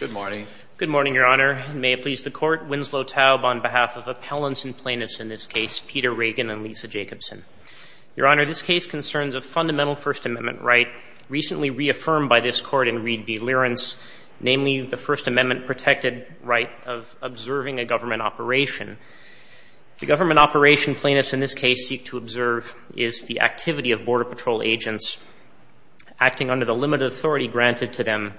Good morning. Good morning, Your Honor. May it please the Court, Winslow Taub on behalf of appellants and plaintiffs in this case, Peter Reagan and Leesa Jacobson. Your Honor, this case concerns a fundamental First Amendment right recently reaffirmed by this Court in Reed v. Learance, namely the First Amendment protected right of observing a government operation. The government operation plaintiffs in this case seek to observe is the activity of Border Patrol agents acting under the limited authority granted to them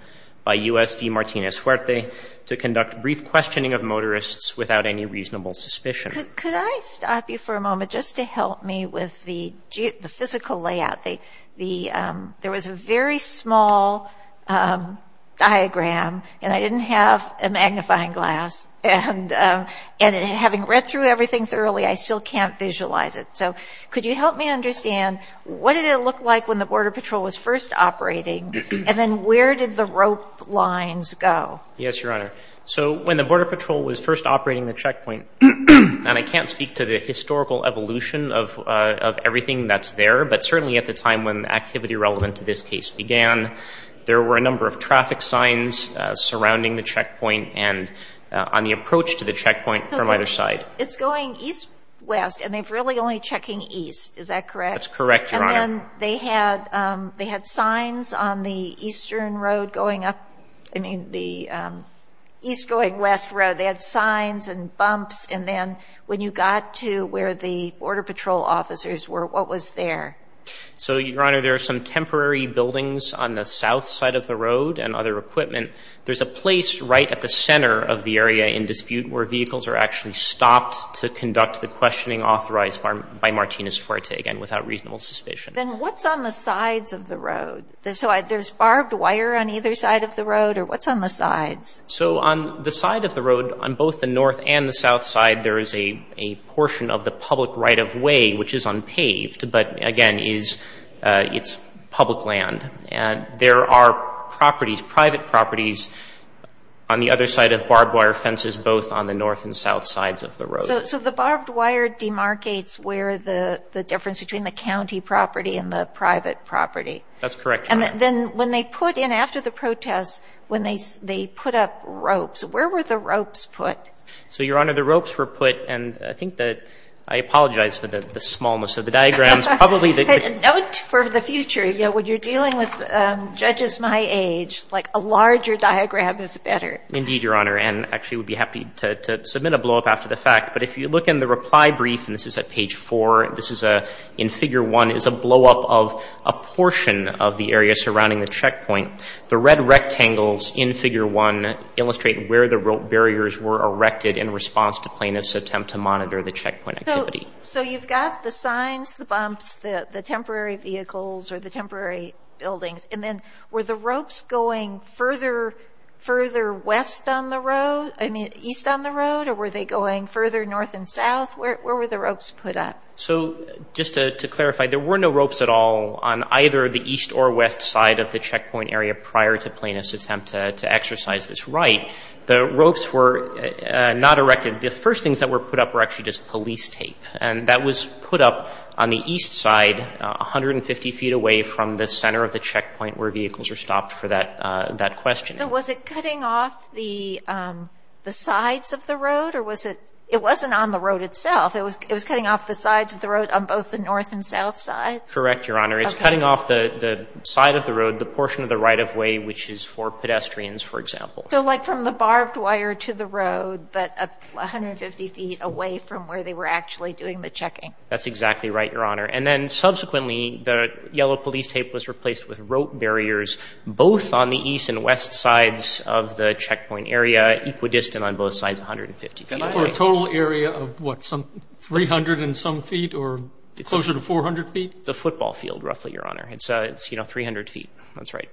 by U.S.D. Martinez-Fuerte to conduct brief questioning of motorists without any reasonable suspicion. Could I stop you for a moment just to help me with the physical layout? There was a very small diagram and I didn't have a magnifying glass and having read through everything thoroughly, I still can't visualize it. So could you help me understand what did it look like when the Border Patrol was first operating and then where did the rope lines go? Yes, Your Honor. So when the Border Patrol was first operating the checkpoint and I can't speak to the historical evolution of everything that's there, but certainly at the time when activity relevant to this case began, there were a number of traffic signs surrounding the checkpoint and on the approach to the checkpoint from either side. It's going east-west and they've really only checking east, is that correct? That's correct, Your Honor. And then they had signs on the eastern road going up, I mean, the east going west road. They had signs and bumps and then when you got to where the Border Patrol officers were, what was there? So, Your Honor, there are some temporary buildings on the south side of the road and other equipment. There's a place right at the center of the area in dispute where vehicles are actually stopped to conduct the questioning authorized by Martinez-Fuerte, again, without reasonable suspicion. Then what's on the sides of the road? So there's barbed wire on either side of the road or what's on the sides? So on the side of the road, on both the north and the south side, there is a portion of the public right-of-way, which is unpaved, but again, it's public land and there are properties, private properties both on the north and south sides of the road. So the barbed wire demarcates where the difference between the county property and the private property. That's correct, Your Honor. And then when they put in, after the protests, when they put up ropes, where were the ropes put? So, Your Honor, the ropes were put and I think that, I apologize for the smallness of the diagrams, probably the- Note for the future, you know, when you're dealing with judges my age, like a larger diagram is better. Indeed, Your Honor, and actually would be happy to submit a blow-up after the fact, but if you look in the reply brief, and this is at page four, this is in figure one, is a blow-up of a portion of the area surrounding the checkpoint. The red rectangles in figure one illustrate where the rope barriers were erected in response to plaintiffs' attempt to monitor the checkpoint activity. So you've got the signs, the bumps, the temporary vehicles or the temporary buildings, I mean, east on the road, or were they going further north and south? Where were the ropes put up? So, just to clarify, there were no ropes at all on either the east or west side of the checkpoint area prior to plaintiffs' attempt to exercise this right. The ropes were not erected. The first things that were put up were actually just police tape, and that was put up on the east side, 150 feet away from the center of the checkpoint where vehicles are stopped for that questioning. Was it cutting off the sides of the road, or was it, it wasn't on the road itself, it was cutting off the sides of the road on both the north and south sides? Correct, Your Honor. It's cutting off the side of the road, the portion of the right-of-way, which is for pedestrians, for example. So like from the barbed wire to the road, but 150 feet away from where they were actually doing the checking. That's exactly right, Your Honor. And then subsequently, the yellow police tape was replaced with rope barriers, both on the east and west sides of the checkpoint area, equidistant on both sides, 150 feet away. And that's for a total area of, what, some 300 and some feet, or closer to 400 feet? It's a football field, roughly, Your Honor. It's 300 feet, that's right.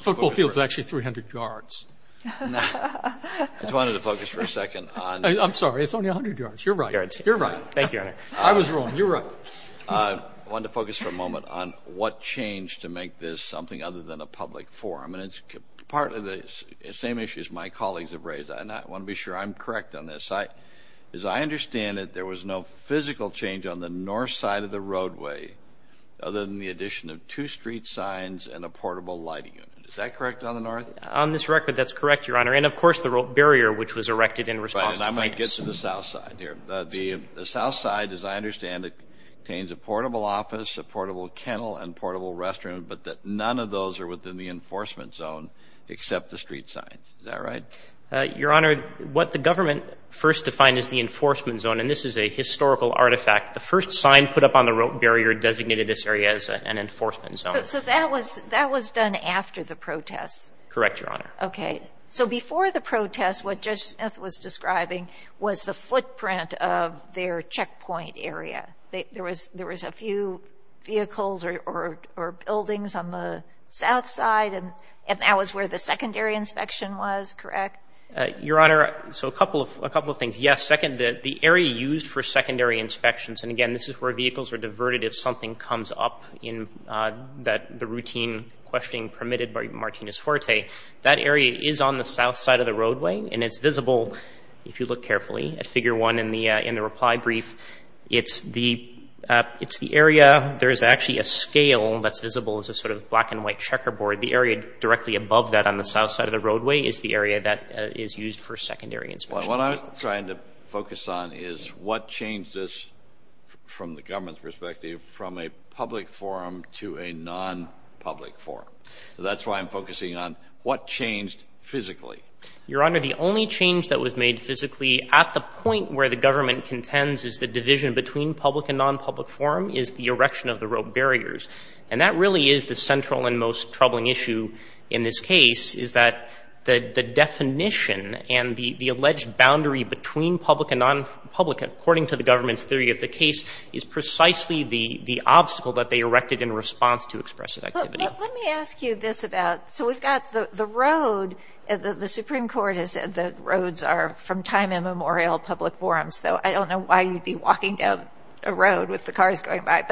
Football field's actually 300 yards. No, I just wanted to focus for a second on... I'm sorry, it's only 100 yards, you're right, you're right. Thank you, Your Honor. I was wrong, you're right. I wanted to focus for a moment on what changed to make this something other than a public forum. And it's part of the same issues my colleagues have raised. And I want to be sure I'm correct on this. As I understand it, there was no physical change on the north side of the roadway, other than the addition of two street signs and a portable lighting unit. Is that correct on the north? On this record, that's correct, Your Honor. And of course, the rope barrier, which was erected in response to police. Right, and I might get to the south side here. The south side, as I understand it, contains a portable office, a portable kennel, and portable restroom. But none of those are within the enforcement zone, except the street signs, is that right? Your Honor, what the government first defined as the enforcement zone, and this is a historical artifact. The first sign put up on the rope barrier designated this area as an enforcement zone. So that was done after the protests? Correct, Your Honor. Okay, so before the protests, what Judge Smith was describing was the footprint of their checkpoint area. There was a few vehicles or buildings on the south side, and that was where the secondary inspection was, correct? Your Honor, so a couple of things. Yes, the area used for secondary inspections, and again, this is where vehicles are diverted if something comes up in the routine questioning permitted by Martinez-Forte. That area is on the south side of the roadway, and it's visible, if you look carefully, at figure one in the reply brief. It's the area, there's actually a scale that's visible as a sort of black and white checkerboard. The area directly above that on the south side of the roadway is the area that is used for secondary inspection. What I'm trying to focus on is what changed this, from the government's perspective, from a public forum to a non-public forum. That's why I'm focusing on what changed physically. Your Honor, the only change that was made physically at the point where the government contends is the division between public and non-public forum is the erection of the road barriers. And that really is the central and most troubling issue in this case, is that the definition and the alleged boundary between public and non-public, according to the government's theory of the case, is precisely the obstacle that they erected in response to expressive activity. Let me ask you this about, so we've got the road, the Supreme Court has said that roads are from time immemorial public forums, though I don't know why you'd be walking down a road with the cars going by,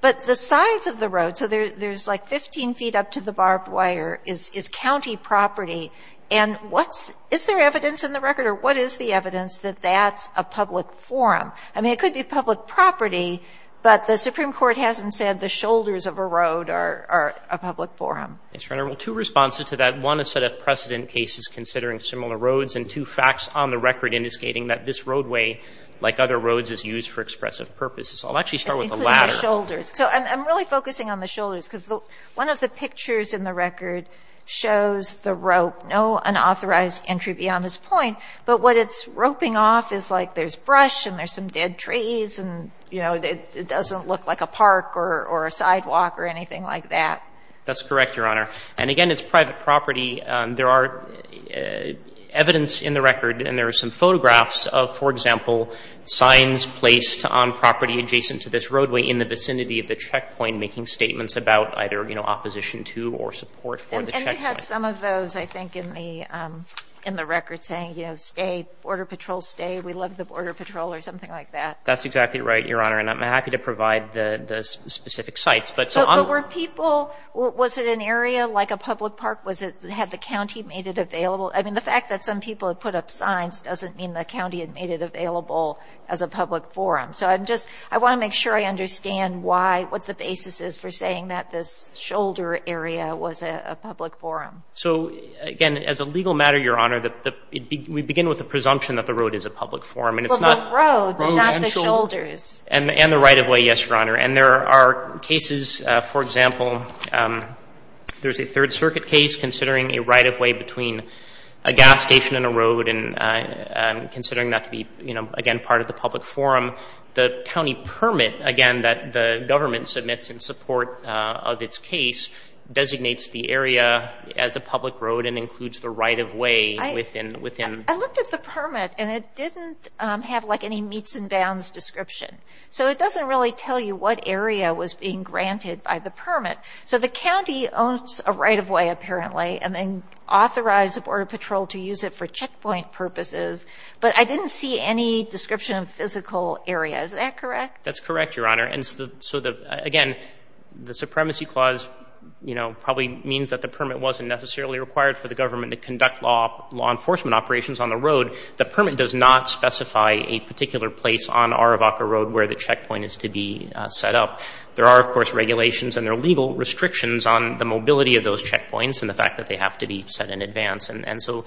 but the size of the road, so there's like 15 feet up to the barbed wire, is county property, and what's, is there evidence in the record, or what is the evidence that that's a public forum? I mean, it could be public property, but the Supreme Court hasn't said the shoulders of a road are a public forum. Yes, Your Honor, well, two responses to that. One, a set of precedent cases considering similar roads, and two facts on the record indicating that this roadway, like other roads, is used for expressive purposes. I'll actually start with the latter. Including the shoulders. So I'm really focusing on the shoulders, because one of the pictures in the record shows the rope, no unauthorized entry beyond this point, but what it's roping off is like, there's brush and there's some dead trees, and it doesn't look like a park or a sidewalk or anything like that. That's correct, Your Honor. And again, it's private property. There are evidence in the record, and there are some photographs of, for example, signs placed on property adjacent to this roadway in the vicinity of the checkpoint making statements about either opposition to or support for the checkpoint. And you had some of those, I think, in the record, saying, you know, stay, Border Patrol, stay. We love the Border Patrol, or something like that. That's exactly right, Your Honor, and I'm happy to provide the specific sites. But were people, was it an area like a public park? Was it, had the county made it available? I mean, the fact that some people have put up signs doesn't mean the county had made it available as a public forum. So I'm just, I want to make sure I understand why, what the basis is for saying that this shoulder area was a public forum. So again, as a legal matter, Your Honor, we begin with the presumption that the road is a public forum, and it's not. But the road, not the shoulders. And the right-of-way, yes, Your Honor. And there are cases, for example, there's a Third Circuit case considering a right-of-way between a gas station and a road, and considering that to be, you know, again, part of the public forum. The county permit, again, that the government submits in support of its case, designates the area as a public road and includes the right-of-way within. I looked at the permit, and it didn't have like any meets and bounds description. So it doesn't really tell you what area was being granted by the permit. So the county owns a right-of-way, apparently, and then authorized the Border Patrol to use it for checkpoint purposes. But I didn't see any description of physical area. Is that correct? That's correct, Your Honor. And so the, again, the supremacy clause, you know, probably means that the permit wasn't necessarily required for the government to conduct law enforcement operations on the road. The permit does not specify a particular place on Aravaca Road where the checkpoint is to be set up. There are, of course, regulations, and there are legal restrictions on the mobility of those checkpoints and the fact that they have to be set in advance. And so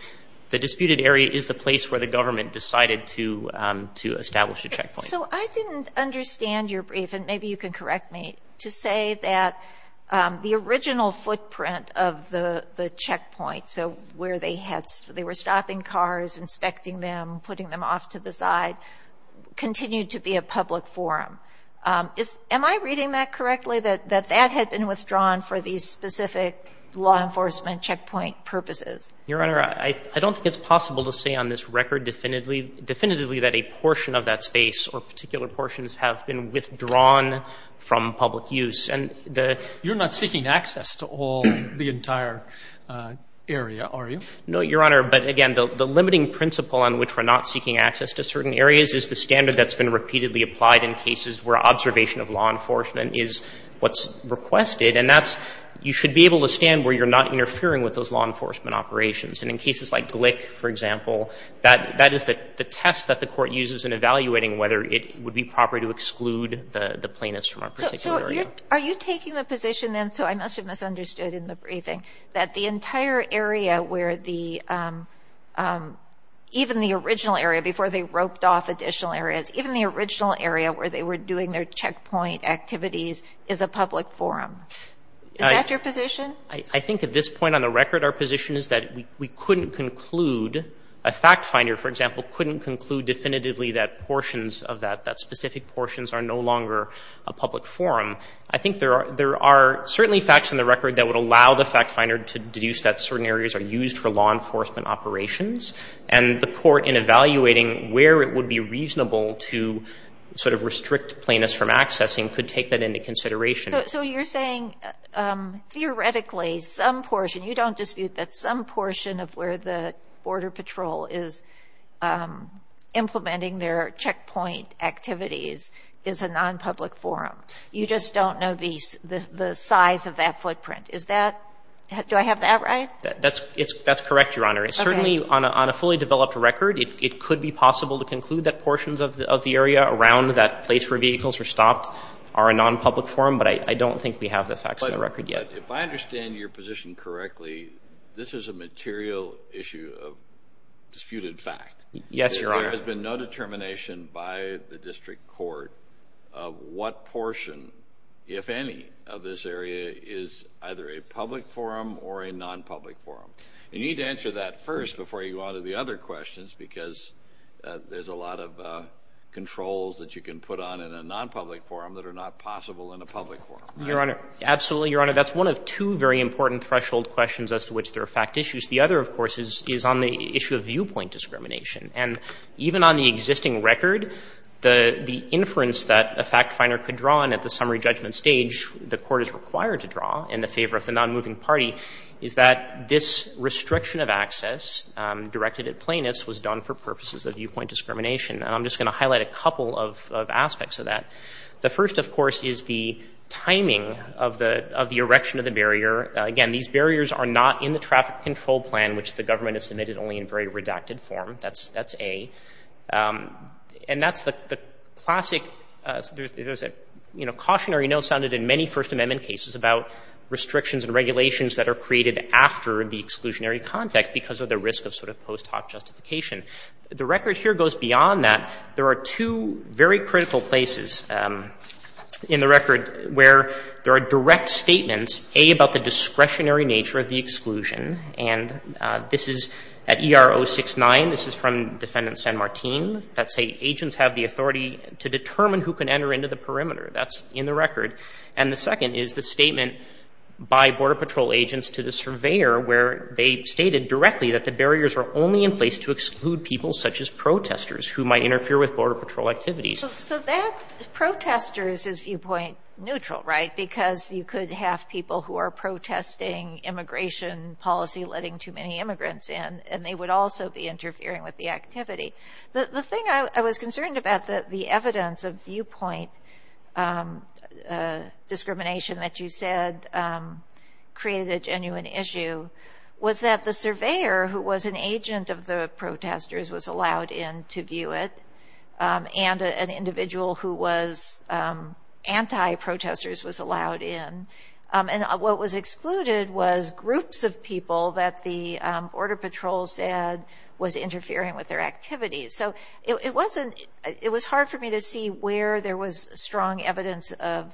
the disputed area is the place where the government decided to establish a checkpoint. So I didn't understand your brief, and maybe you can correct me, to say that the original footprint of the checkpoint, so where they were stopping cars, inspecting them, putting them off to the side, continued to be a public forum. Am I reading that correctly, that that had been withdrawn for these specific law enforcement checkpoint purposes? Your Honor, I don't think it's possible to say on this record definitively that a portion of that space or particular portions have been withdrawn from public use. And the- You're not seeking access to all the entire area, are you? No, Your Honor. But again, the limiting principle on which we're not seeking access to certain areas is the standard that's been repeatedly applied in cases where observation of law enforcement is what's requested. And that's, you should be able to stand where you're not interfering with those law enforcement operations. And in cases like Glick, for example, that is the test that the court uses in evaluating whether it would be proper to exclude the plaintiffs from a particular area. Are you taking the position then, so I must have misunderstood in the briefing, that the entire area where the, even the original area, before they roped off additional areas, even the original area where they were doing their checkpoint activities is a public forum? Is that your position? I think at this point on the record, our position is that we couldn't conclude, a fact finder, for example, couldn't conclude definitively that portions of that, that specific portions are no longer a public forum. I think there are certainly facts in the record that would allow the fact finder to deduce that certain areas are used for law enforcement operations. And the court in evaluating where it would be reasonable to sort of restrict plaintiffs from accessing could take that into consideration. So you're saying theoretically some portion, you don't dispute that some portion of where the Border Patrol is implementing their checkpoint activities is a non-public forum. You just don't know the size of that footprint. Is that, do I have that right? That's correct, Your Honor. Certainly on a fully developed record, it could be possible to conclude that portions of the area around that place where vehicles are stopped are a non-public forum, but I don't think we have the facts on the record yet. If I understand your position correctly, this is a material issue of disputed fact. Yes, Your Honor. There has been no determination by the district court of what portion, if any, of this area is either a public forum or a non-public forum. You need to answer that first before you go on to the other questions because there's a lot of controls that you can put on in a non-public forum that are not possible in a public forum. Your Honor, absolutely, Your Honor. That's one of two very important threshold questions as to which there are fact issues. The other, of course, is on the issue of viewpoint discrimination. And even on the existing record, the inference that a fact finder could draw and at the summary judgment stage, the court is required to draw in the favor of the non-moving party is that this restriction of access directed at plaintiffs was done for purposes of viewpoint discrimination. And I'm just going to highlight a couple of aspects of that. The first, of course, is the timing of the erection of the barrier. Again, these barriers are not in the traffic control plan, which the government has submitted only in very redacted form. That's A. And that's the classic, there's a cautionary note sounded in many First Amendment cases about restrictions and regulations that are created after the exclusionary context because of the risk of sort of post hoc justification. The record here goes beyond that. There are two very critical places in the record where there are direct statements, A, about the discretionary nature of the exclusion. And this is at ER 069. This is from defendant San Martin, that say agents have the authority to determine who can enter into the perimeter. That's in the record. And the second is the statement by border patrol agents to the surveyor where they stated directly that the barriers are only in place to exclude people such as protestors who might interfere with border patrol activities. So that protestors is viewpoint neutral, right? Because you could have people who are protesting immigration policy, letting too many immigrants in, and they would also be interfering with the activity. The thing I was concerned about that the evidence of viewpoint discrimination that you said created a genuine issue was that the surveyor who was an agent of the protestors was allowed in to view it. And an individual who was anti-protestors was allowed in. And what was excluded was groups of people that the border patrol said was interfering with their activities. So it was hard for me to see where there was strong evidence of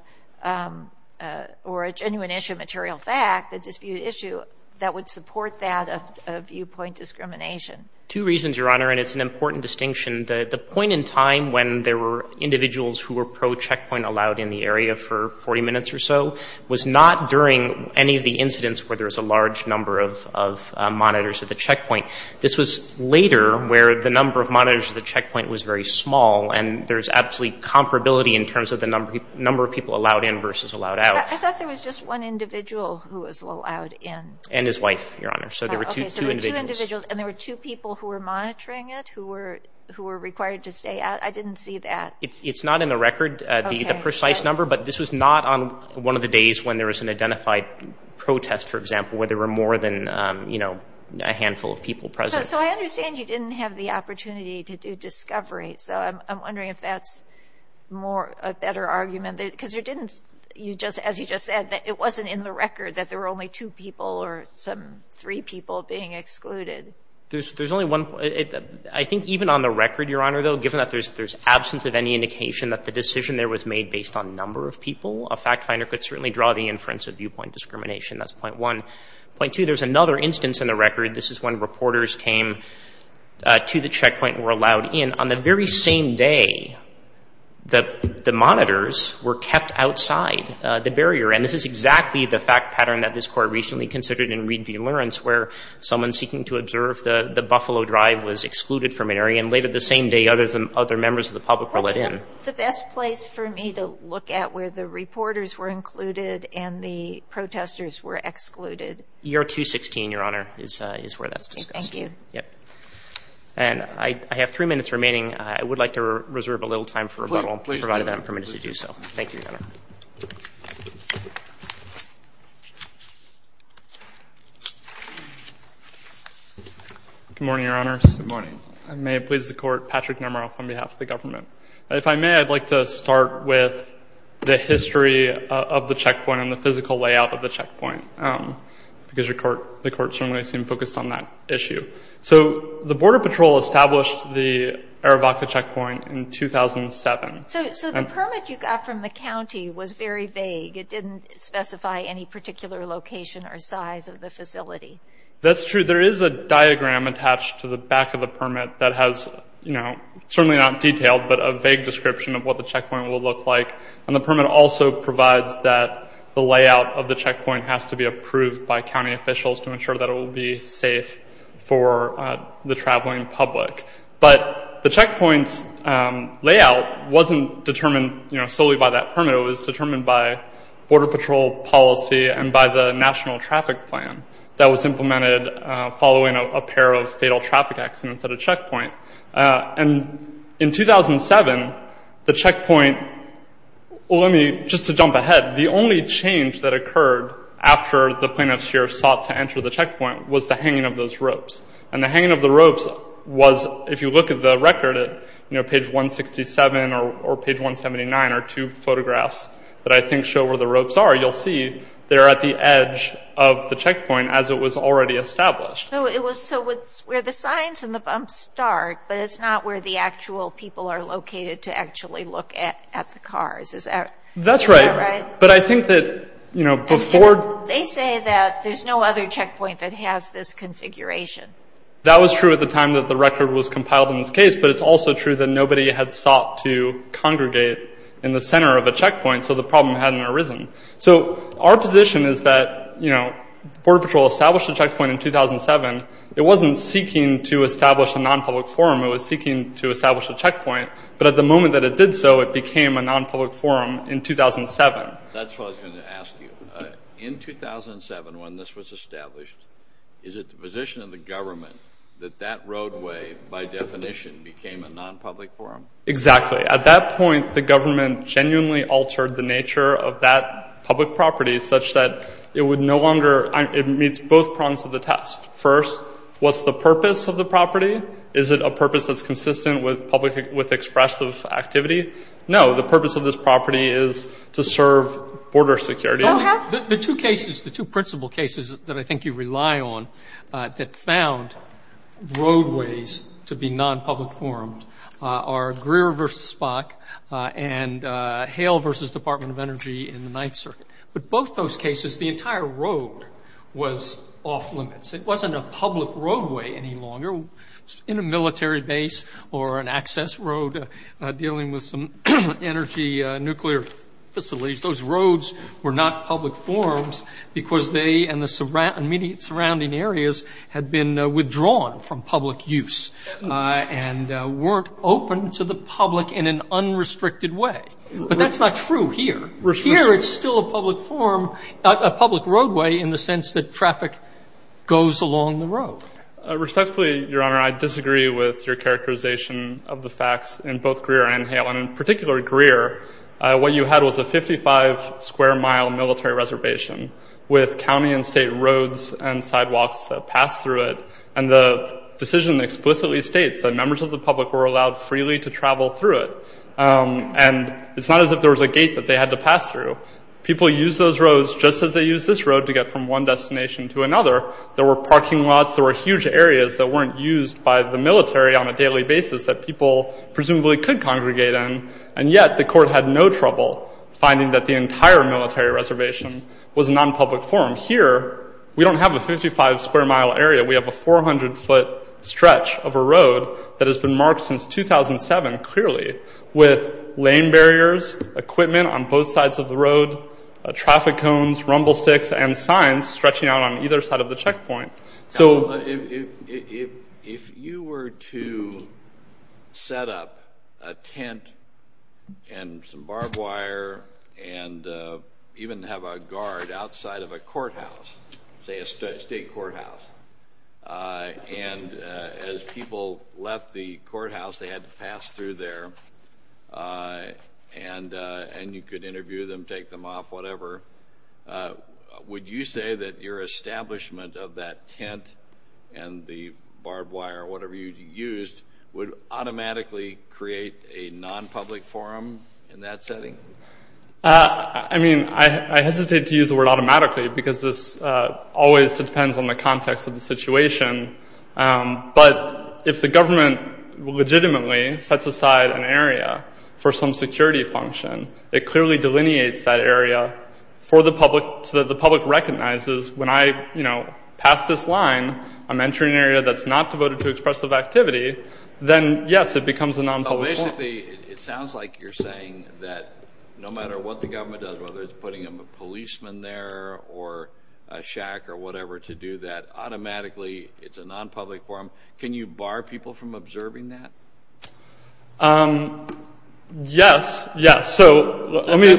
or a genuine issue, material fact, a disputed issue that would support that of viewpoint discrimination. Two reasons, Your Honor, and it's an important distinction. The point in time when there were individuals who were pro-checkpoint allowed in the area for 40 minutes or so was not during any of the incidents where there was a large number of monitors at the checkpoint. This was later where the number of monitors at the checkpoint was very small and there's absolutely comparability in terms of the number of people allowed in versus allowed out. I thought there was just one individual who was allowed in. And his wife, Your Honor. So there were two individuals. And there were two people who were monitoring it who were required to stay out. I didn't see that. It's not in the record, the precise number, but this was not on one of the days when there was an identified protest, for example, where there were more than a handful of people present. So I understand you didn't have the opportunity to do discovery. So I'm wondering if that's a better argument. Because there didn't, as you just said, it wasn't in the record that there were only two people or some three people being excluded. There's only one. I think even on the record, Your Honor, though, given that there's absence of any indication that the decision there was made based on number of people, a fact finder could certainly draw the inference of viewpoint discrimination. That's point one. Point two, there's another instance in the record. This is when reporters came to the checkpoint and were allowed in on the very same day that the monitors were kept outside the barrier. And this is exactly the fact pattern that this court recently considered in Reed v. Lawrence, where someone seeking to observe the Buffalo Drive was excluded from an area and later the same day other members of the public were let in. What's the best place for me to look at where the reporters were included and the protesters were excluded? Year 216, Your Honor, is where that's discussed. Thank you. And I have three minutes remaining. I would like to reserve a little time for rebuttal, provided that I'm permitted to do so. Thank you, Your Honor. Good morning, Your Honor. Good morning. I may have pleased the court, Patrick Nemeroff, on behalf of the government. If I may, I'd like to start with the history of the checkpoint and the physical layout of the checkpoint, because the court certainly seemed focused on that issue. So the Border Patrol established the Aravaca Checkpoint in 2007. So the permit you got from the county was very vague. It didn't specify any particular location. It didn't specify the location or size of the facility. That's true. There is a diagram attached to the back of the permit that has, you know, certainly not detailed, but a vague description of what the checkpoint will look like. And the permit also provides that the layout of the checkpoint has to be approved by county officials to ensure that it will be safe for the traveling public. But the checkpoint's layout wasn't determined, you know, solely by that permit. It was determined by Border Patrol policy and by the National Traffic Plan that was implemented following a pair of fatal traffic accidents at a checkpoint. And in 2007, the checkpoint, well, let me, just to jump ahead, the only change that occurred after the plaintiffs here sought to enter the checkpoint was the hanging of those ropes. And the hanging of the ropes was, if you look at the record at, you know, page 167 or page 179 are two photographs that I think show where the ropes are. You'll see they're at the edge of the checkpoint as it was already established. So it was, so it's where the signs and the bumps start, but it's not where the actual people are located to actually look at the cars. Is that right? That's right. But I think that, you know, before... They say that there's no other checkpoint that has this configuration. That was true at the time that the record was compiled in this case, but it's also true that nobody had sought to congregate in the center of a checkpoint. So the problem hadn't arisen. So our position is that, you know, Border Patrol established a checkpoint in 2007. It wasn't seeking to establish a non-public forum. It was seeking to establish a checkpoint, but at the moment that it did so, it became a non-public forum in 2007. That's what I was going to ask you. In 2007, when this was established, is it the position of the government that that roadway, by definition, became a non-public forum? Exactly. At that point, the government genuinely altered the nature of that public property such that it would no longer... It meets both prongs of the test. First, what's the purpose of the property? Is it a purpose that's consistent with expressive activity? No, the purpose of this property is to serve border security. The two cases, the two principal cases that I think you rely on that found roadways to be non-public forums are Greer v. Spock and Hale v. Department of Energy in the Ninth Circuit. But both those cases, the entire road was off-limits. It wasn't a public roadway any longer. In a military base or an access road dealing with some energy, nuclear facilities, those roads were not public forums because they and the immediate surrounding areas had been withdrawn from public use and weren't open to the public in an unrestricted way. But that's not true here. Here, it's still a public roadway in the sense that traffic goes along the road. Respectfully, Your Honor, I disagree with your characterization of the facts in both Greer and Hale. And in particular, Greer, what you had was a 55-square-mile military reservation with county and state roads and sidewalks that pass through it. And the decision explicitly states that members of the public were allowed freely to travel through it. And it's not as if there was a gate that they had to pass through. People use those roads just as they use this road to get from one destination to another. There were parking lots. There were huge areas that weren't used by the military on a daily basis that people presumably could congregate in. And yet, the court had no trouble finding that the entire military reservation was a non-public forum. Here, we don't have a 55-square-mile area. We have a 400-foot stretch of a road that has been marked since 2007, clearly, with lane barriers, equipment on both sides of the road, traffic cones, rumble sticks, and signs stretching out on either side of the checkpoint. So if you were to set up a tent and some barbed wire and even have a guard outside of a courthouse, say a state courthouse, and as people left the courthouse, they had to pass through there, and you could interview them, take them off, whatever, would you say that your establishment of that tent and the barbed wire, whatever you used, would automatically create a non-public forum in that setting? I mean, I hesitate to use the word automatically because this always depends on the context of the situation. But if the government legitimately sets aside an area for some security function, it clearly delineates that area so that the public recognizes, when I pass this line, I'm entering an area that's not devoted to expressive activity. Then, yes, it becomes a non-public forum. Well, basically, it sounds like you're saying that no matter what the government does, whether it's putting a policeman there or a shack or whatever to do that, automatically, it's a non-public forum. Can you bar people from observing that? Yes. Yeah, so let me.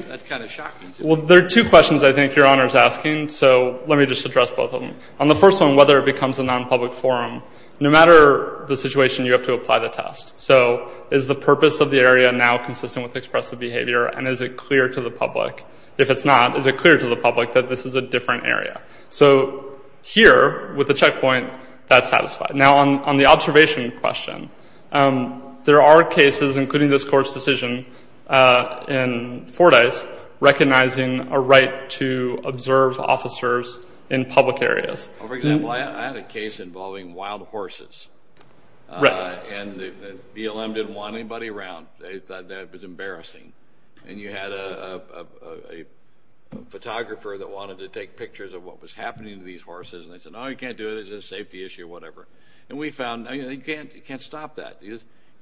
That's kind of shocking. Well, there are two questions I think your honor is asking, so let me just address both of them. On the first one, whether it becomes a non-public forum, no matter the situation, you have to apply the test. So is the purpose of the area now consistent with expressive behavior, and is it clear to the public? If it's not, is it clear to the public that this is a different area? So here, with the checkpoint, that's satisfied. Now, on the observation question, there are cases, including this court's decision in Fordyce, recognizing a right to observe officers in public areas. For example, I had a case involving wild horses, and the BLM didn't want anybody around. They thought that was embarrassing. And you had a photographer that wanted to take pictures of what was happening to these horses, and they said, oh, you can't do it. It's a safety issue, whatever. And we found, you can't stop that.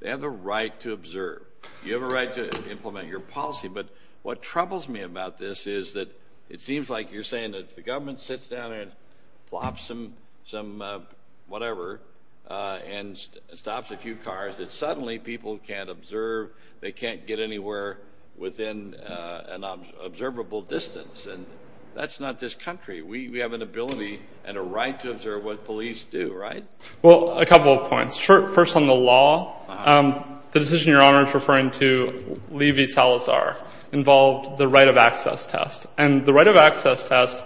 They have a right to observe. You have a right to implement your policy. But what troubles me about this is that it seems like you're saying that if the government sits down and flops some whatever and stops a few cars, that suddenly people can't observe. They can't get anywhere within an observable distance. And that's not this country. We have an ability and a right to observe what police do, right? Well, a couple of points. First on the law, the decision your Honor is referring to, Lee v. Salazar, involved the right of access test. And the right of access test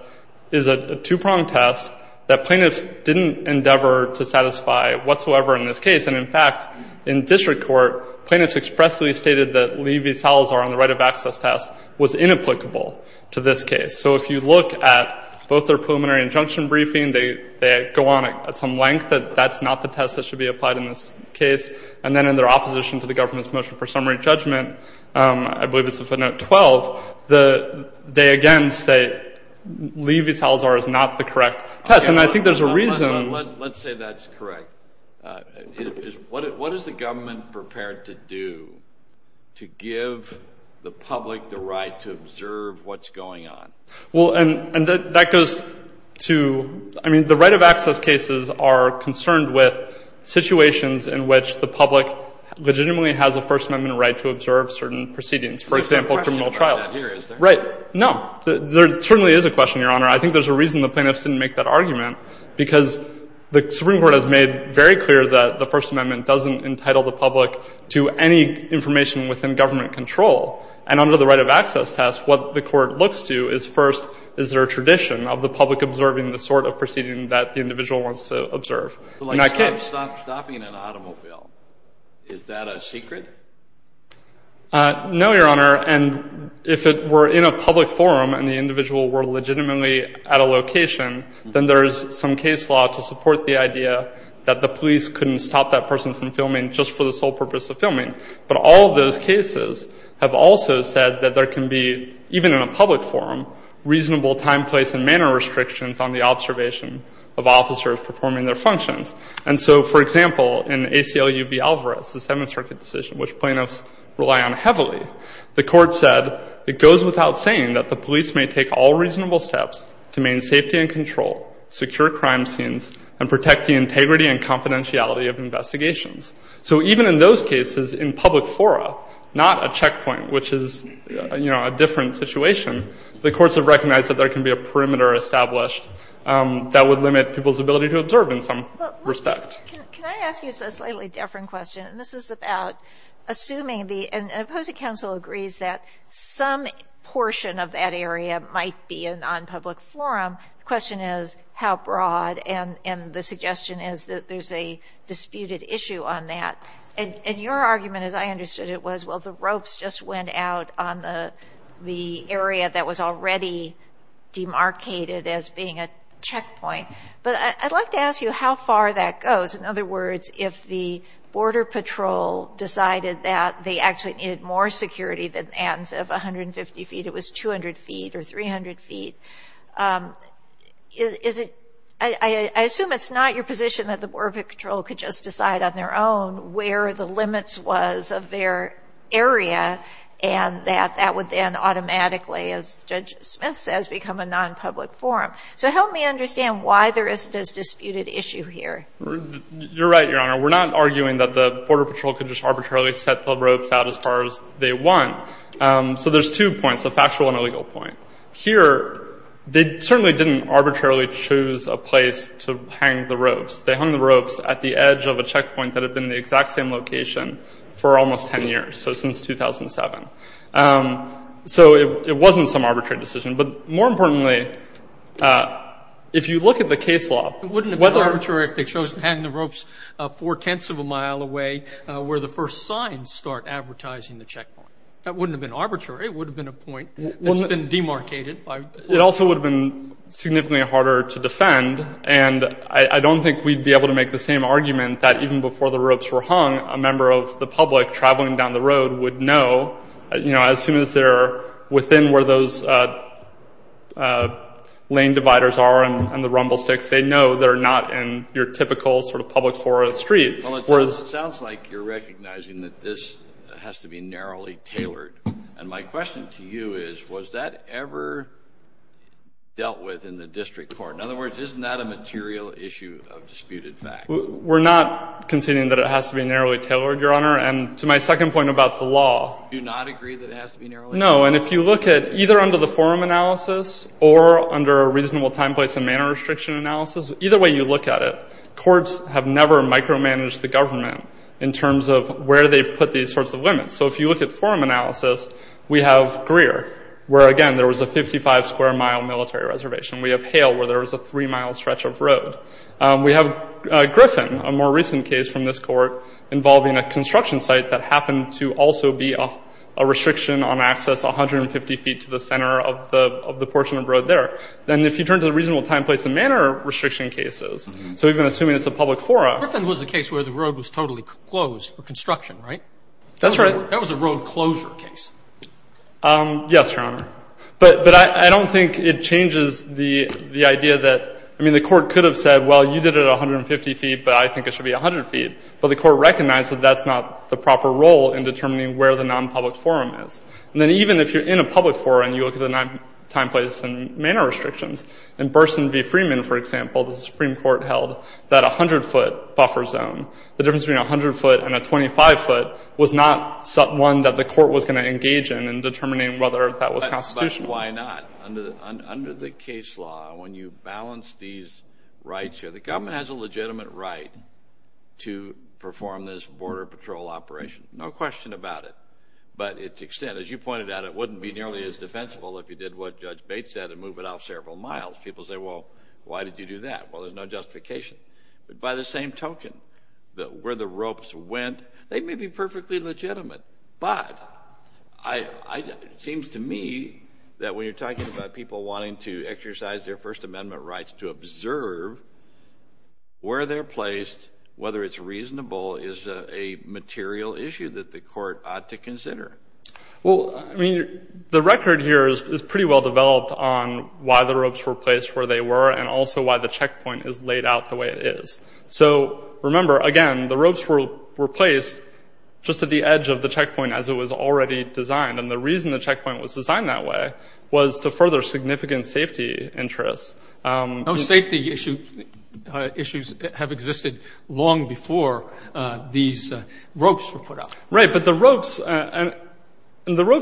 is a two-pronged test that plaintiffs didn't endeavor to satisfy whatsoever in this case. And in fact, in district court, plaintiffs expressly stated that Lee v. Salazar on the right of access test was inapplicable to this case. So if you look at both their preliminary injunction briefing, they go on at some length that that's not the test that should be applied in this case. And then in their opposition to the government's motion for summary judgment, I believe it's a footnote 12, they again say Lee v. Salazar is not the correct test. And I think there's a reason. Let's say that's correct. What is the government prepared to do to give the public the right to observe what's going on? Well, and that goes to, I mean, the right of access cases are concerned with situations in which the public legitimately has a First Amendment right to observe certain proceedings, for example, criminal trials. There's no question about that here, is there? Right. No, there certainly is a question, Your Honor. I think there's a reason the plaintiffs didn't make that argument, because the Supreme Court has made very clear that the First Amendment doesn't entitle the public to any information within government control. And under the right of access test, what the court looks to is, first, is there a tradition of the public observing the sort of proceeding that the individual wants to observe? So like stopping an automobile, is that a secret? No, Your Honor. And if it were in a public forum and the individual were legitimately at a location, then there is some case law to support the idea that the police couldn't stop that person from filming just for the sole purpose of filming. But all of those cases have also said that there can be, even in a public forum, reasonable time, place, and manner restrictions on the observation of officers performing their functions. And so, for example, in ACLU v. Alvarez, the Seventh Circuit decision, which plaintiffs rely on heavily, the court said, it goes without saying that the police may take all reasonable steps to maintain safety and control, secure crime scenes, and protect the integrity and confidentiality of investigations. So even in those cases, in public fora, not a checkpoint, which is a different situation, the courts have recognized that there can be a perimeter established that would limit people's ability to observe in some respect. Can I ask you a slightly different question? And this is about assuming the opposing counsel agrees that some portion of that area might be a non-public forum. The question is, how broad? And the suggestion is that there's a disputed issue on that. And your argument, as I understood it, was, well, the ropes just went out on the area that was already demarcated as being a checkpoint. But I'd like to ask you how far that goes. In other words, if the Border Patrol decided that they actually needed more security than the Athens of 150 feet, it was 200 feet or 300 feet, I assume it's not your position that the Border Patrol could just decide on their own where the limits was of their area, and that that would then automatically, as Judge Smith says, become a non-public forum. So help me understand why there is this disputed issue here. You're right, Your Honor. We're not arguing that the Border Patrol could just set the ropes out as far as they want. So there's two points, a factual and a legal point. Here, they certainly didn't arbitrarily choose a place to hang the ropes. They hung the ropes at the edge of a checkpoint that had been in the exact same location for almost 10 years, so since 2007. So it wasn't some arbitrary decision. But more importantly, if you look at the case law, whether- It wouldn't have been arbitrary if they chose to hang the ropes 4 tenths of a mile away where the first signs start advertising the checkpoint. That wouldn't have been arbitrary. It would have been a point that's been demarcated by- It also would have been significantly harder to defend. And I don't think we'd be able to make the same argument that even before the ropes were hung, a member of the public traveling down the road would know as soon as they're within where those lane dividers are and the rumble sticks, they know they're not in your typical sort of public forum street. Well, it sounds like you're recognizing that this has to be narrowly tailored. And my question to you is, was that ever dealt with in the district court? In other words, isn't that a material issue of disputed fact? We're not conceding that it has to be narrowly tailored, Your Honor. And to my second point about the law- Do you not agree that it has to be narrowly tailored? No. And if you look at either under the forum analysis or under a reasonable time, place, and manner restriction analysis, either way you look at it, courts have never micromanaged the government in terms of where they put these sorts of limits. So if you look at forum analysis, we have Greer, where, again, there was a 55-square-mile military reservation. We have Hale, where there was a three-mile stretch of road. We have Griffin, a more recent case from this court, involving a construction site that happened to also be a restriction on access 150 feet to the center of the portion of road there. Then if you turn to the reasonable time, place, and manner restriction cases, so even assuming it's a public forum- Griffin was a case where the road was totally closed for construction, right? That's right. That was a road closure case. Yes, Your Honor. But I don't think it changes the idea that, I mean, the court could have said, well, you did it 150 feet, but I think it should be 100 feet. But the court recognized that that's not the proper role in determining where the nonpublic forum is. And then even if you're in a public forum and you look at the time, place, and manner restrictions, in Burson v. Freeman, for example, the Supreme Court held that 100 foot buffer zone. The difference between 100 foot and a 25 foot was not one that the court was going to engage in in determining whether that was constitutional. But why not? Under the case law, when you balance these rights here, the government has a legitimate right to perform this Border Patrol operation. No question about it. But its extent, as you pointed out, it wouldn't be nearly as defensible if you did what Judge Bates said and move it off several miles. People say, well, why did you do that? Well, there's no justification. But by the same token, where the ropes went, they may be perfectly legitimate. But it seems to me that when you're talking about people wanting to exercise their First Amendment rights to observe where they're placed, whether it's reasonable, is a material issue that the court ought to consider. Well, I mean, the record here is pretty well developed on why the ropes were placed where they were and also why the checkpoint is laid out the way it is. So remember, again, the ropes were placed just at the edge of the checkpoint as it was already designed. And the reason the checkpoint was designed that way was to further significant safety interests. No safety issues have existed long before these ropes were put up. Right, but the ropes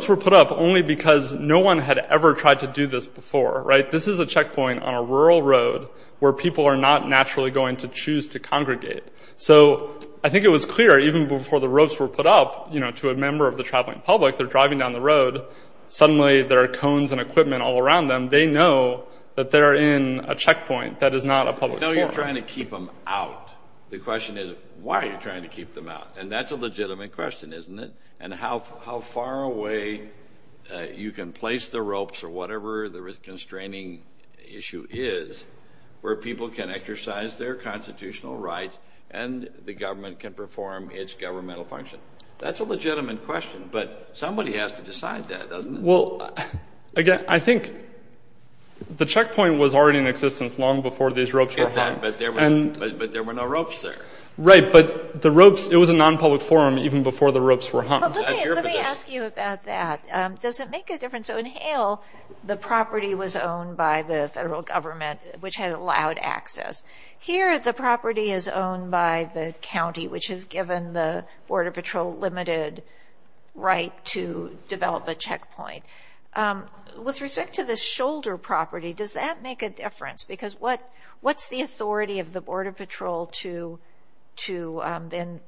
were put up only because no one had ever tried to do this before, right? This is a checkpoint on a rural road where people are not naturally going to choose to congregate. So I think it was clear even before the ropes were put up to a member of the traveling public, they're driving down the road. Suddenly, there are cones and equipment all around them. They know that they're in a checkpoint that is not a public sport. No, you're trying to keep them out. The question is, why are you trying to keep them out? And that's a legitimate question, isn't it? And how far away you can place the ropes or whatever the restraining issue is, where people can exercise their constitutional rights and the government can perform its governmental function. That's a legitimate question. But somebody has to decide that, doesn't it? Well, again, I think the checkpoint was already in existence long before these ropes were hung. But there were no ropes there. Right, but the ropes, it was a non-public forum even before the ropes were hung. But let me ask you about that. Does it make a difference? So in Hale, the property was owned by the federal government, which had allowed access. Here, the property is owned by the county, which has given the Border Patrol limited right to develop a checkpoint. With respect to the shoulder property, does that make a difference? Because what's the authority of the Border Patrol to then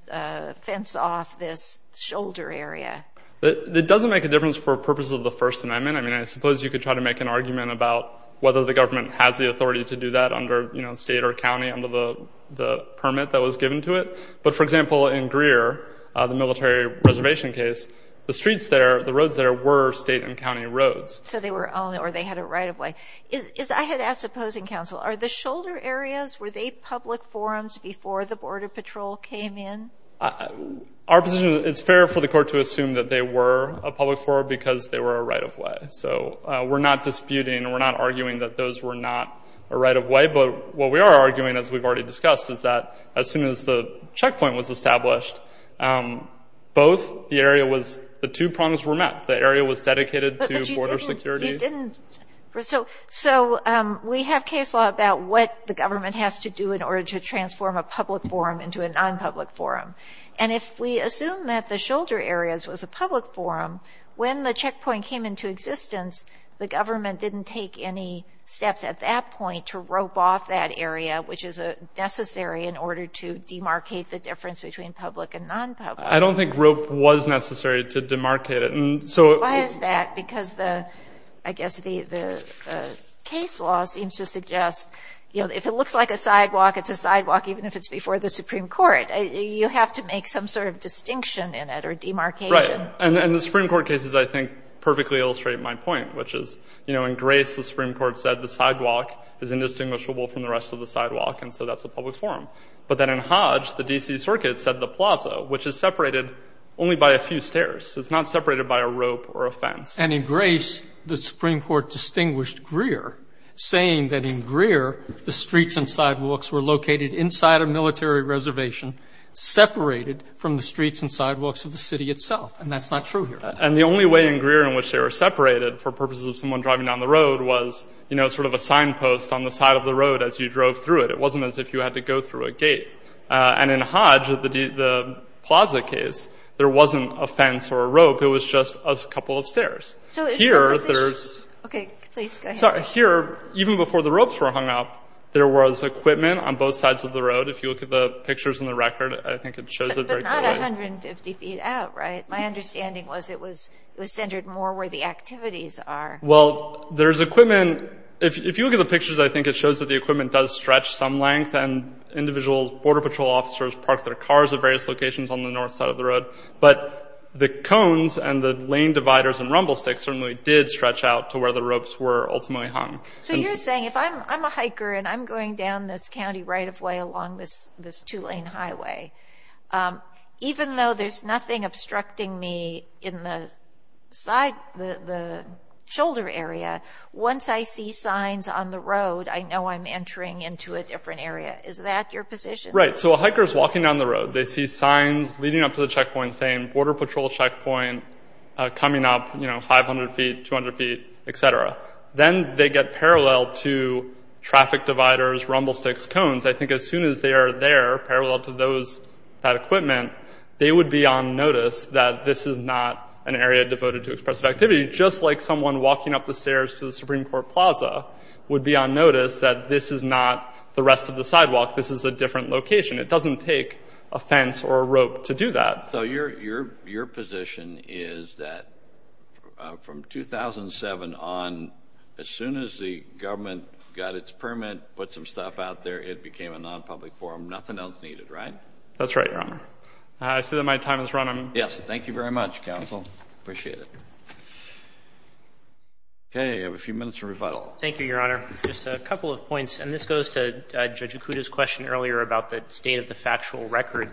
fence off this shoulder area? It doesn't make a difference for purposes of the First Amendment. I mean, I suppose you could try to make an argument about whether the government has the authority to do that under state or county under the permit that was given to it. But for example, in Greer, the military reservation case, the streets there, the roads there were state and county roads. So they were owned or they had a right of way. I had asked opposing counsel, are the shoulder areas, were they public forums before the Border Patrol came in? Our position is it's fair for the court to assume that they were a public forum because they were a right of way. So we're not disputing, we're not arguing that those were not a right of way. But what we are arguing, as we've already discussed, is that as soon as the checkpoint was established, both the area was, the two prongs were met. The area was dedicated to border security. But you didn't, so we have case law about what the government has to do in order to transform a public forum into a non-public forum. And if we assume that the shoulder areas was a public forum, when the checkpoint came into existence, the government didn't take any steps at that point to rope off that area, which is a necessary in order to demarcate the difference between public and non-public. I don't think rope was necessary to demarcate it. So why is that? Because the, I guess the case law seems to suggest, if it looks like a sidewalk, it's a sidewalk, even if it's before the Supreme Court. You have to make some sort of distinction in it or demarcation. Right, and the Supreme Court cases, I think, perfectly illustrate my point, which is, in Grace, the Supreme Court said the sidewalk is indistinguishable from the rest of the sidewalk, and so that's a public forum. But then in Hodge, the D.C. Circuit said the plaza, which is separated only by a few stairs. It's not separated by a rope or a fence. And in Grace, the Supreme Court distinguished Greer, saying that in Greer, the streets and sidewalks were located inside a military reservation, separated from the streets and sidewalks of the city itself, and that's not true here. And the only way in Greer in which they were separated for purposes of someone driving down the road was sort of a signpost on the side of the road as you drove through it. It wasn't as if you had to go through a gate. And in Hodge, the plaza case, there wasn't a fence or a rope, it was just a couple of stairs. Here, there's... Okay, please go ahead. Sorry, here, even before the ropes were hung up, there was equipment on both sides of the road. If you look at the pictures in the record, I think it shows it very clearly. But not 150 feet out, right? My understanding was it was centered more where the activities are. Well, there's equipment. If you look at the pictures, I think it shows that the equipment does stretch some length, and individual border patrol officers park their cars at various locations on the north side of the road. But the cones and the lane dividers and rumble sticks certainly did stretch out to where the ropes were ultimately hung. So you're saying if I'm a hiker and I'm going down this county right-of-way along this two-lane highway, even though there's nothing obstructing me in the shoulder area, once I see signs on the road, I know I'm entering into a different area. Is that your position? Right, so a hiker's walking down the road. They see signs leading up to the checkpoint saying border patrol checkpoint coming up 500 feet, 200 feet, et cetera. Then they get parallel to traffic dividers, rumble sticks, cones. I think as soon as they are there, parallel to that equipment, they would be on notice that this is not an area devoted to expressive activity, just like someone walking up the stairs to the Supreme Court Plaza would be on notice that this is not the rest of the sidewalk. This is a different location. It doesn't take a fence or a rope to do that. So your position is that from 2007 on, as soon as the government got its permit, put some stuff out there, it became a non-public forum. Nothing else needed, right? That's right, Your Honor. I see that my time is running. Yes, thank you very much, counsel. Appreciate it. Okay, you have a few minutes for rebuttal. Thank you, Your Honor. Just a couple of points, and this goes to Judge Ikuda's question earlier about the state of the factual record.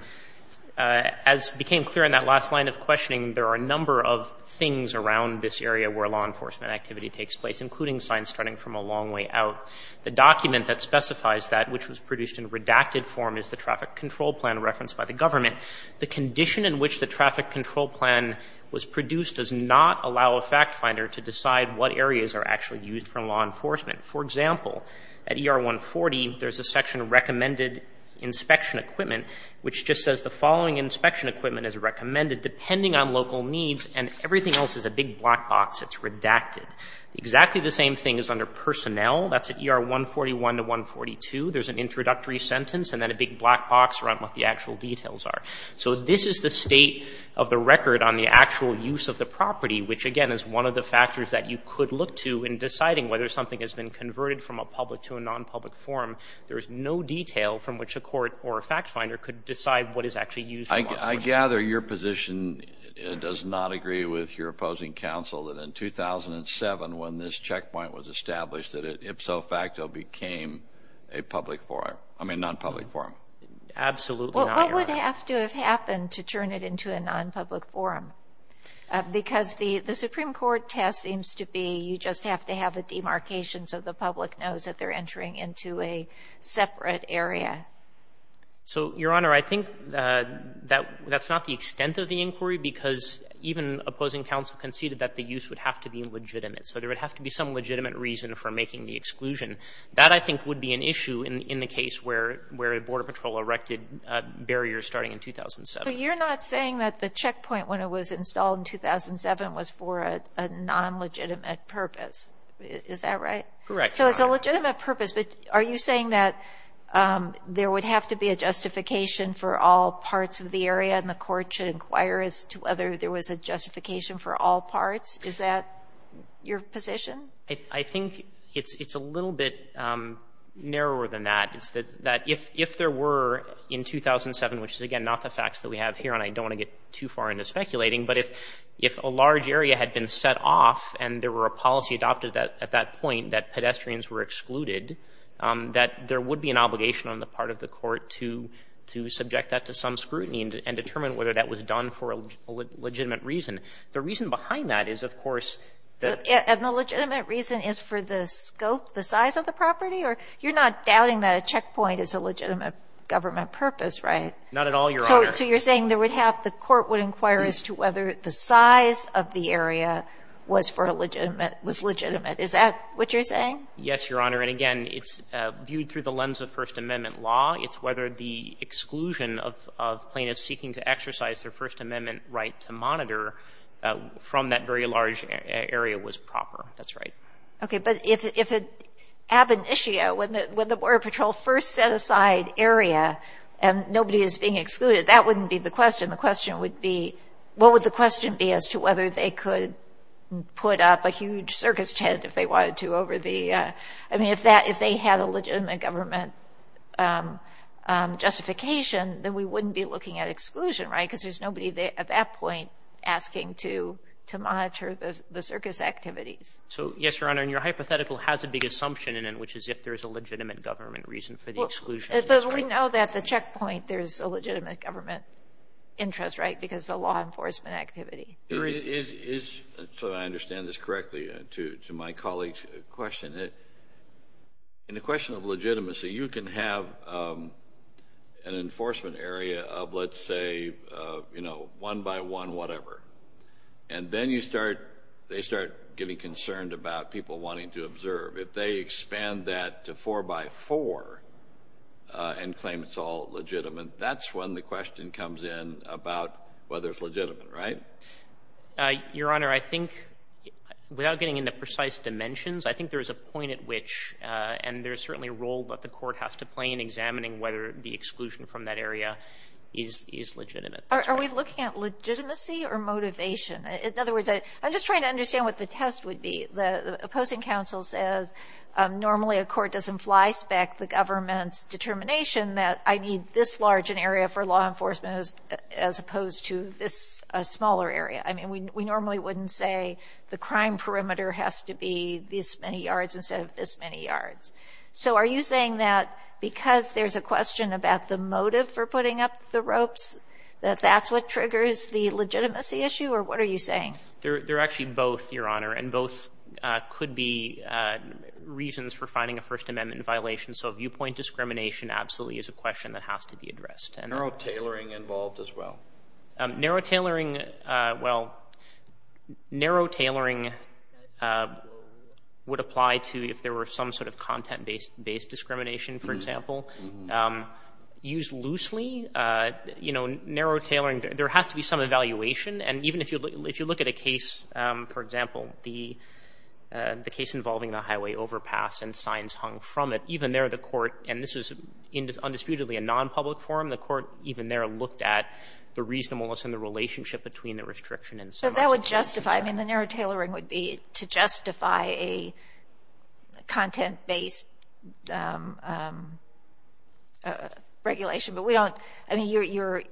As became clear in that last line of questioning, there are a number of things around this area where law enforcement activity takes place, including signs starting from a long way out. The document that specifies that, which was produced in redacted form, is the traffic control plan referenced by the government. The condition in which the traffic control plan was produced does not allow a fact finder to decide what areas are actually used for law enforcement. For example, at ER 140, there's a section on recommended inspection equipment, which just says the following inspection equipment is recommended depending on local needs, and everything else is a big black box that's redacted. Exactly the same thing is under personnel. That's at ER 141 to 142. There's an introductory sentence, and then a big black box around what the actual details are. So this is the state of the record on the actual use of the property, which, again, is one of the factors that you could look to in deciding whether something has been converted from a public to a non-public forum. There's no detail from which a court or a fact finder could decide what is actually used for law enforcement. I gather your position does not agree with your opposing counsel that in 2007, when this checkpoint was established, that it ipso facto became a public forum, I mean, non-public forum. Absolutely not, Your Honor. Well, what would have to have happened to turn it into a non-public forum? Because the Supreme Court test seems to be you just have to have a demarcation so the public knows that they're entering into a separate area. So, Your Honor, I think that's not the extent of the inquiry because even opposing counsel conceded that the use would have to be legitimate. So there would have to be some legitimate reason for making the exclusion. That, I think, would be an issue in the case where a border patrol erected barriers starting in 2007. But you're not saying that the checkpoint when it was installed in 2007 was for a non-legitimate purpose. Is that right? Correct, Your Honor. So it's a legitimate purpose, but are you saying that there would have to be a justification for all parts of the area and the court should inquire as to whether there was a justification for all parts? Is that your position? I think it's a little bit narrower than that. It's that if there were, in 2007, which is, again, not the facts that we have here and I don't want to get too far into speculating, but if a large area had been set off and there were a policy adopted at that point that pedestrians were excluded, that there would be an obligation on the part of the court to subject that to some scrutiny and determine whether that was done for a legitimate reason. The reason behind that is, of course, that- And the legitimate reason is for the scope, the size of the property? Or you're not doubting that a checkpoint is a legitimate government purpose, right? Not at all, Your Honor. So you're saying there would have, the court would inquire as to whether the size of the area was for a legitimate, was legitimate. Is that what you're saying? Yes, Your Honor. And again, it's viewed through the lens of First Amendment law. It's whether the exclusion of plaintiffs seeking to exercise their First Amendment right to monitor from that very large area was proper. That's right. Okay, but if it ab initio, when the Border Patrol first set aside area and nobody is being excluded, that wouldn't be the question. The question would be, what would the question be as to whether they could put up a huge circus tent if they wanted to over the, I mean, if they had a legitimate government justification, then we wouldn't be looking at exclusion, right? Because there's nobody there at that point asking to monitor the circus activities. So, yes, Your Honor. And your hypothetical has a big assumption in it, which is if there's a legitimate government reason for the exclusion. But we know that the checkpoint, there's a legitimate government interest, right? Because the law enforcement activity. There is, so that I understand this correctly, to my colleague's question. In the question of legitimacy, you can have an enforcement area of, let's say, you know, one by one, whatever. And then you start, they start getting concerned about people wanting to observe. If they expand that to four by four and claim it's all legitimate, that's when the question comes in about whether it's legitimate, right? Your Honor, I think without getting into precise dimensions, I think there's a point at which, and there's certainly a role that the court has to play in examining whether the exclusion from that area is legitimate. Are we looking at legitimacy or motivation? In other words, I'm just trying to understand what the test would be. The opposing counsel says, normally a court doesn't fly spec the government's determination that I need this large an area for law enforcement as opposed to this smaller area. I mean, we normally wouldn't say the crime perimeter has to be this many yards instead of this many yards. So are you saying that because there's a question about the motive for putting up the ropes, that that's what triggers the legitimacy issue? Or what are you saying? They're actually both, Your Honor. And both could be reasons for finding a First Amendment violation. So viewpoint discrimination absolutely is a question that has to be addressed. Narrow tailoring involved as well. Narrow tailoring, well, narrow tailoring would apply to if there were some sort of content-based discrimination, for example. Use loosely, you know, narrow tailoring, there has to be some evaluation. And even if you look at a case, for example, the case involving the highway overpass and signs hung from it, and this was undisputedly a non-public forum, the court even there looked at the reasonableness and the relationship between the restriction and signs. So that would justify, I mean, the narrow tailoring would be to justify a content-based regulation. But we don't, I mean,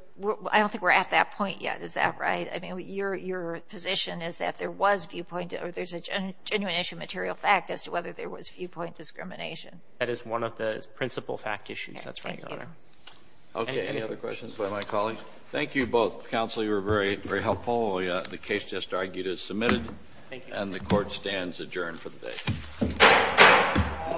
I don't think we're at that point yet. Is that right? I mean, your position is that there was viewpoint, or there's a genuine issue of material fact as to whether there was viewpoint discrimination. That is one of the principal fact issues. That's right, Your Honor. Okay, any other questions by my colleagues? Thank you both. Counsel, you were very, very helpful. The case just argued is submitted, and the court stands adjourned for the day.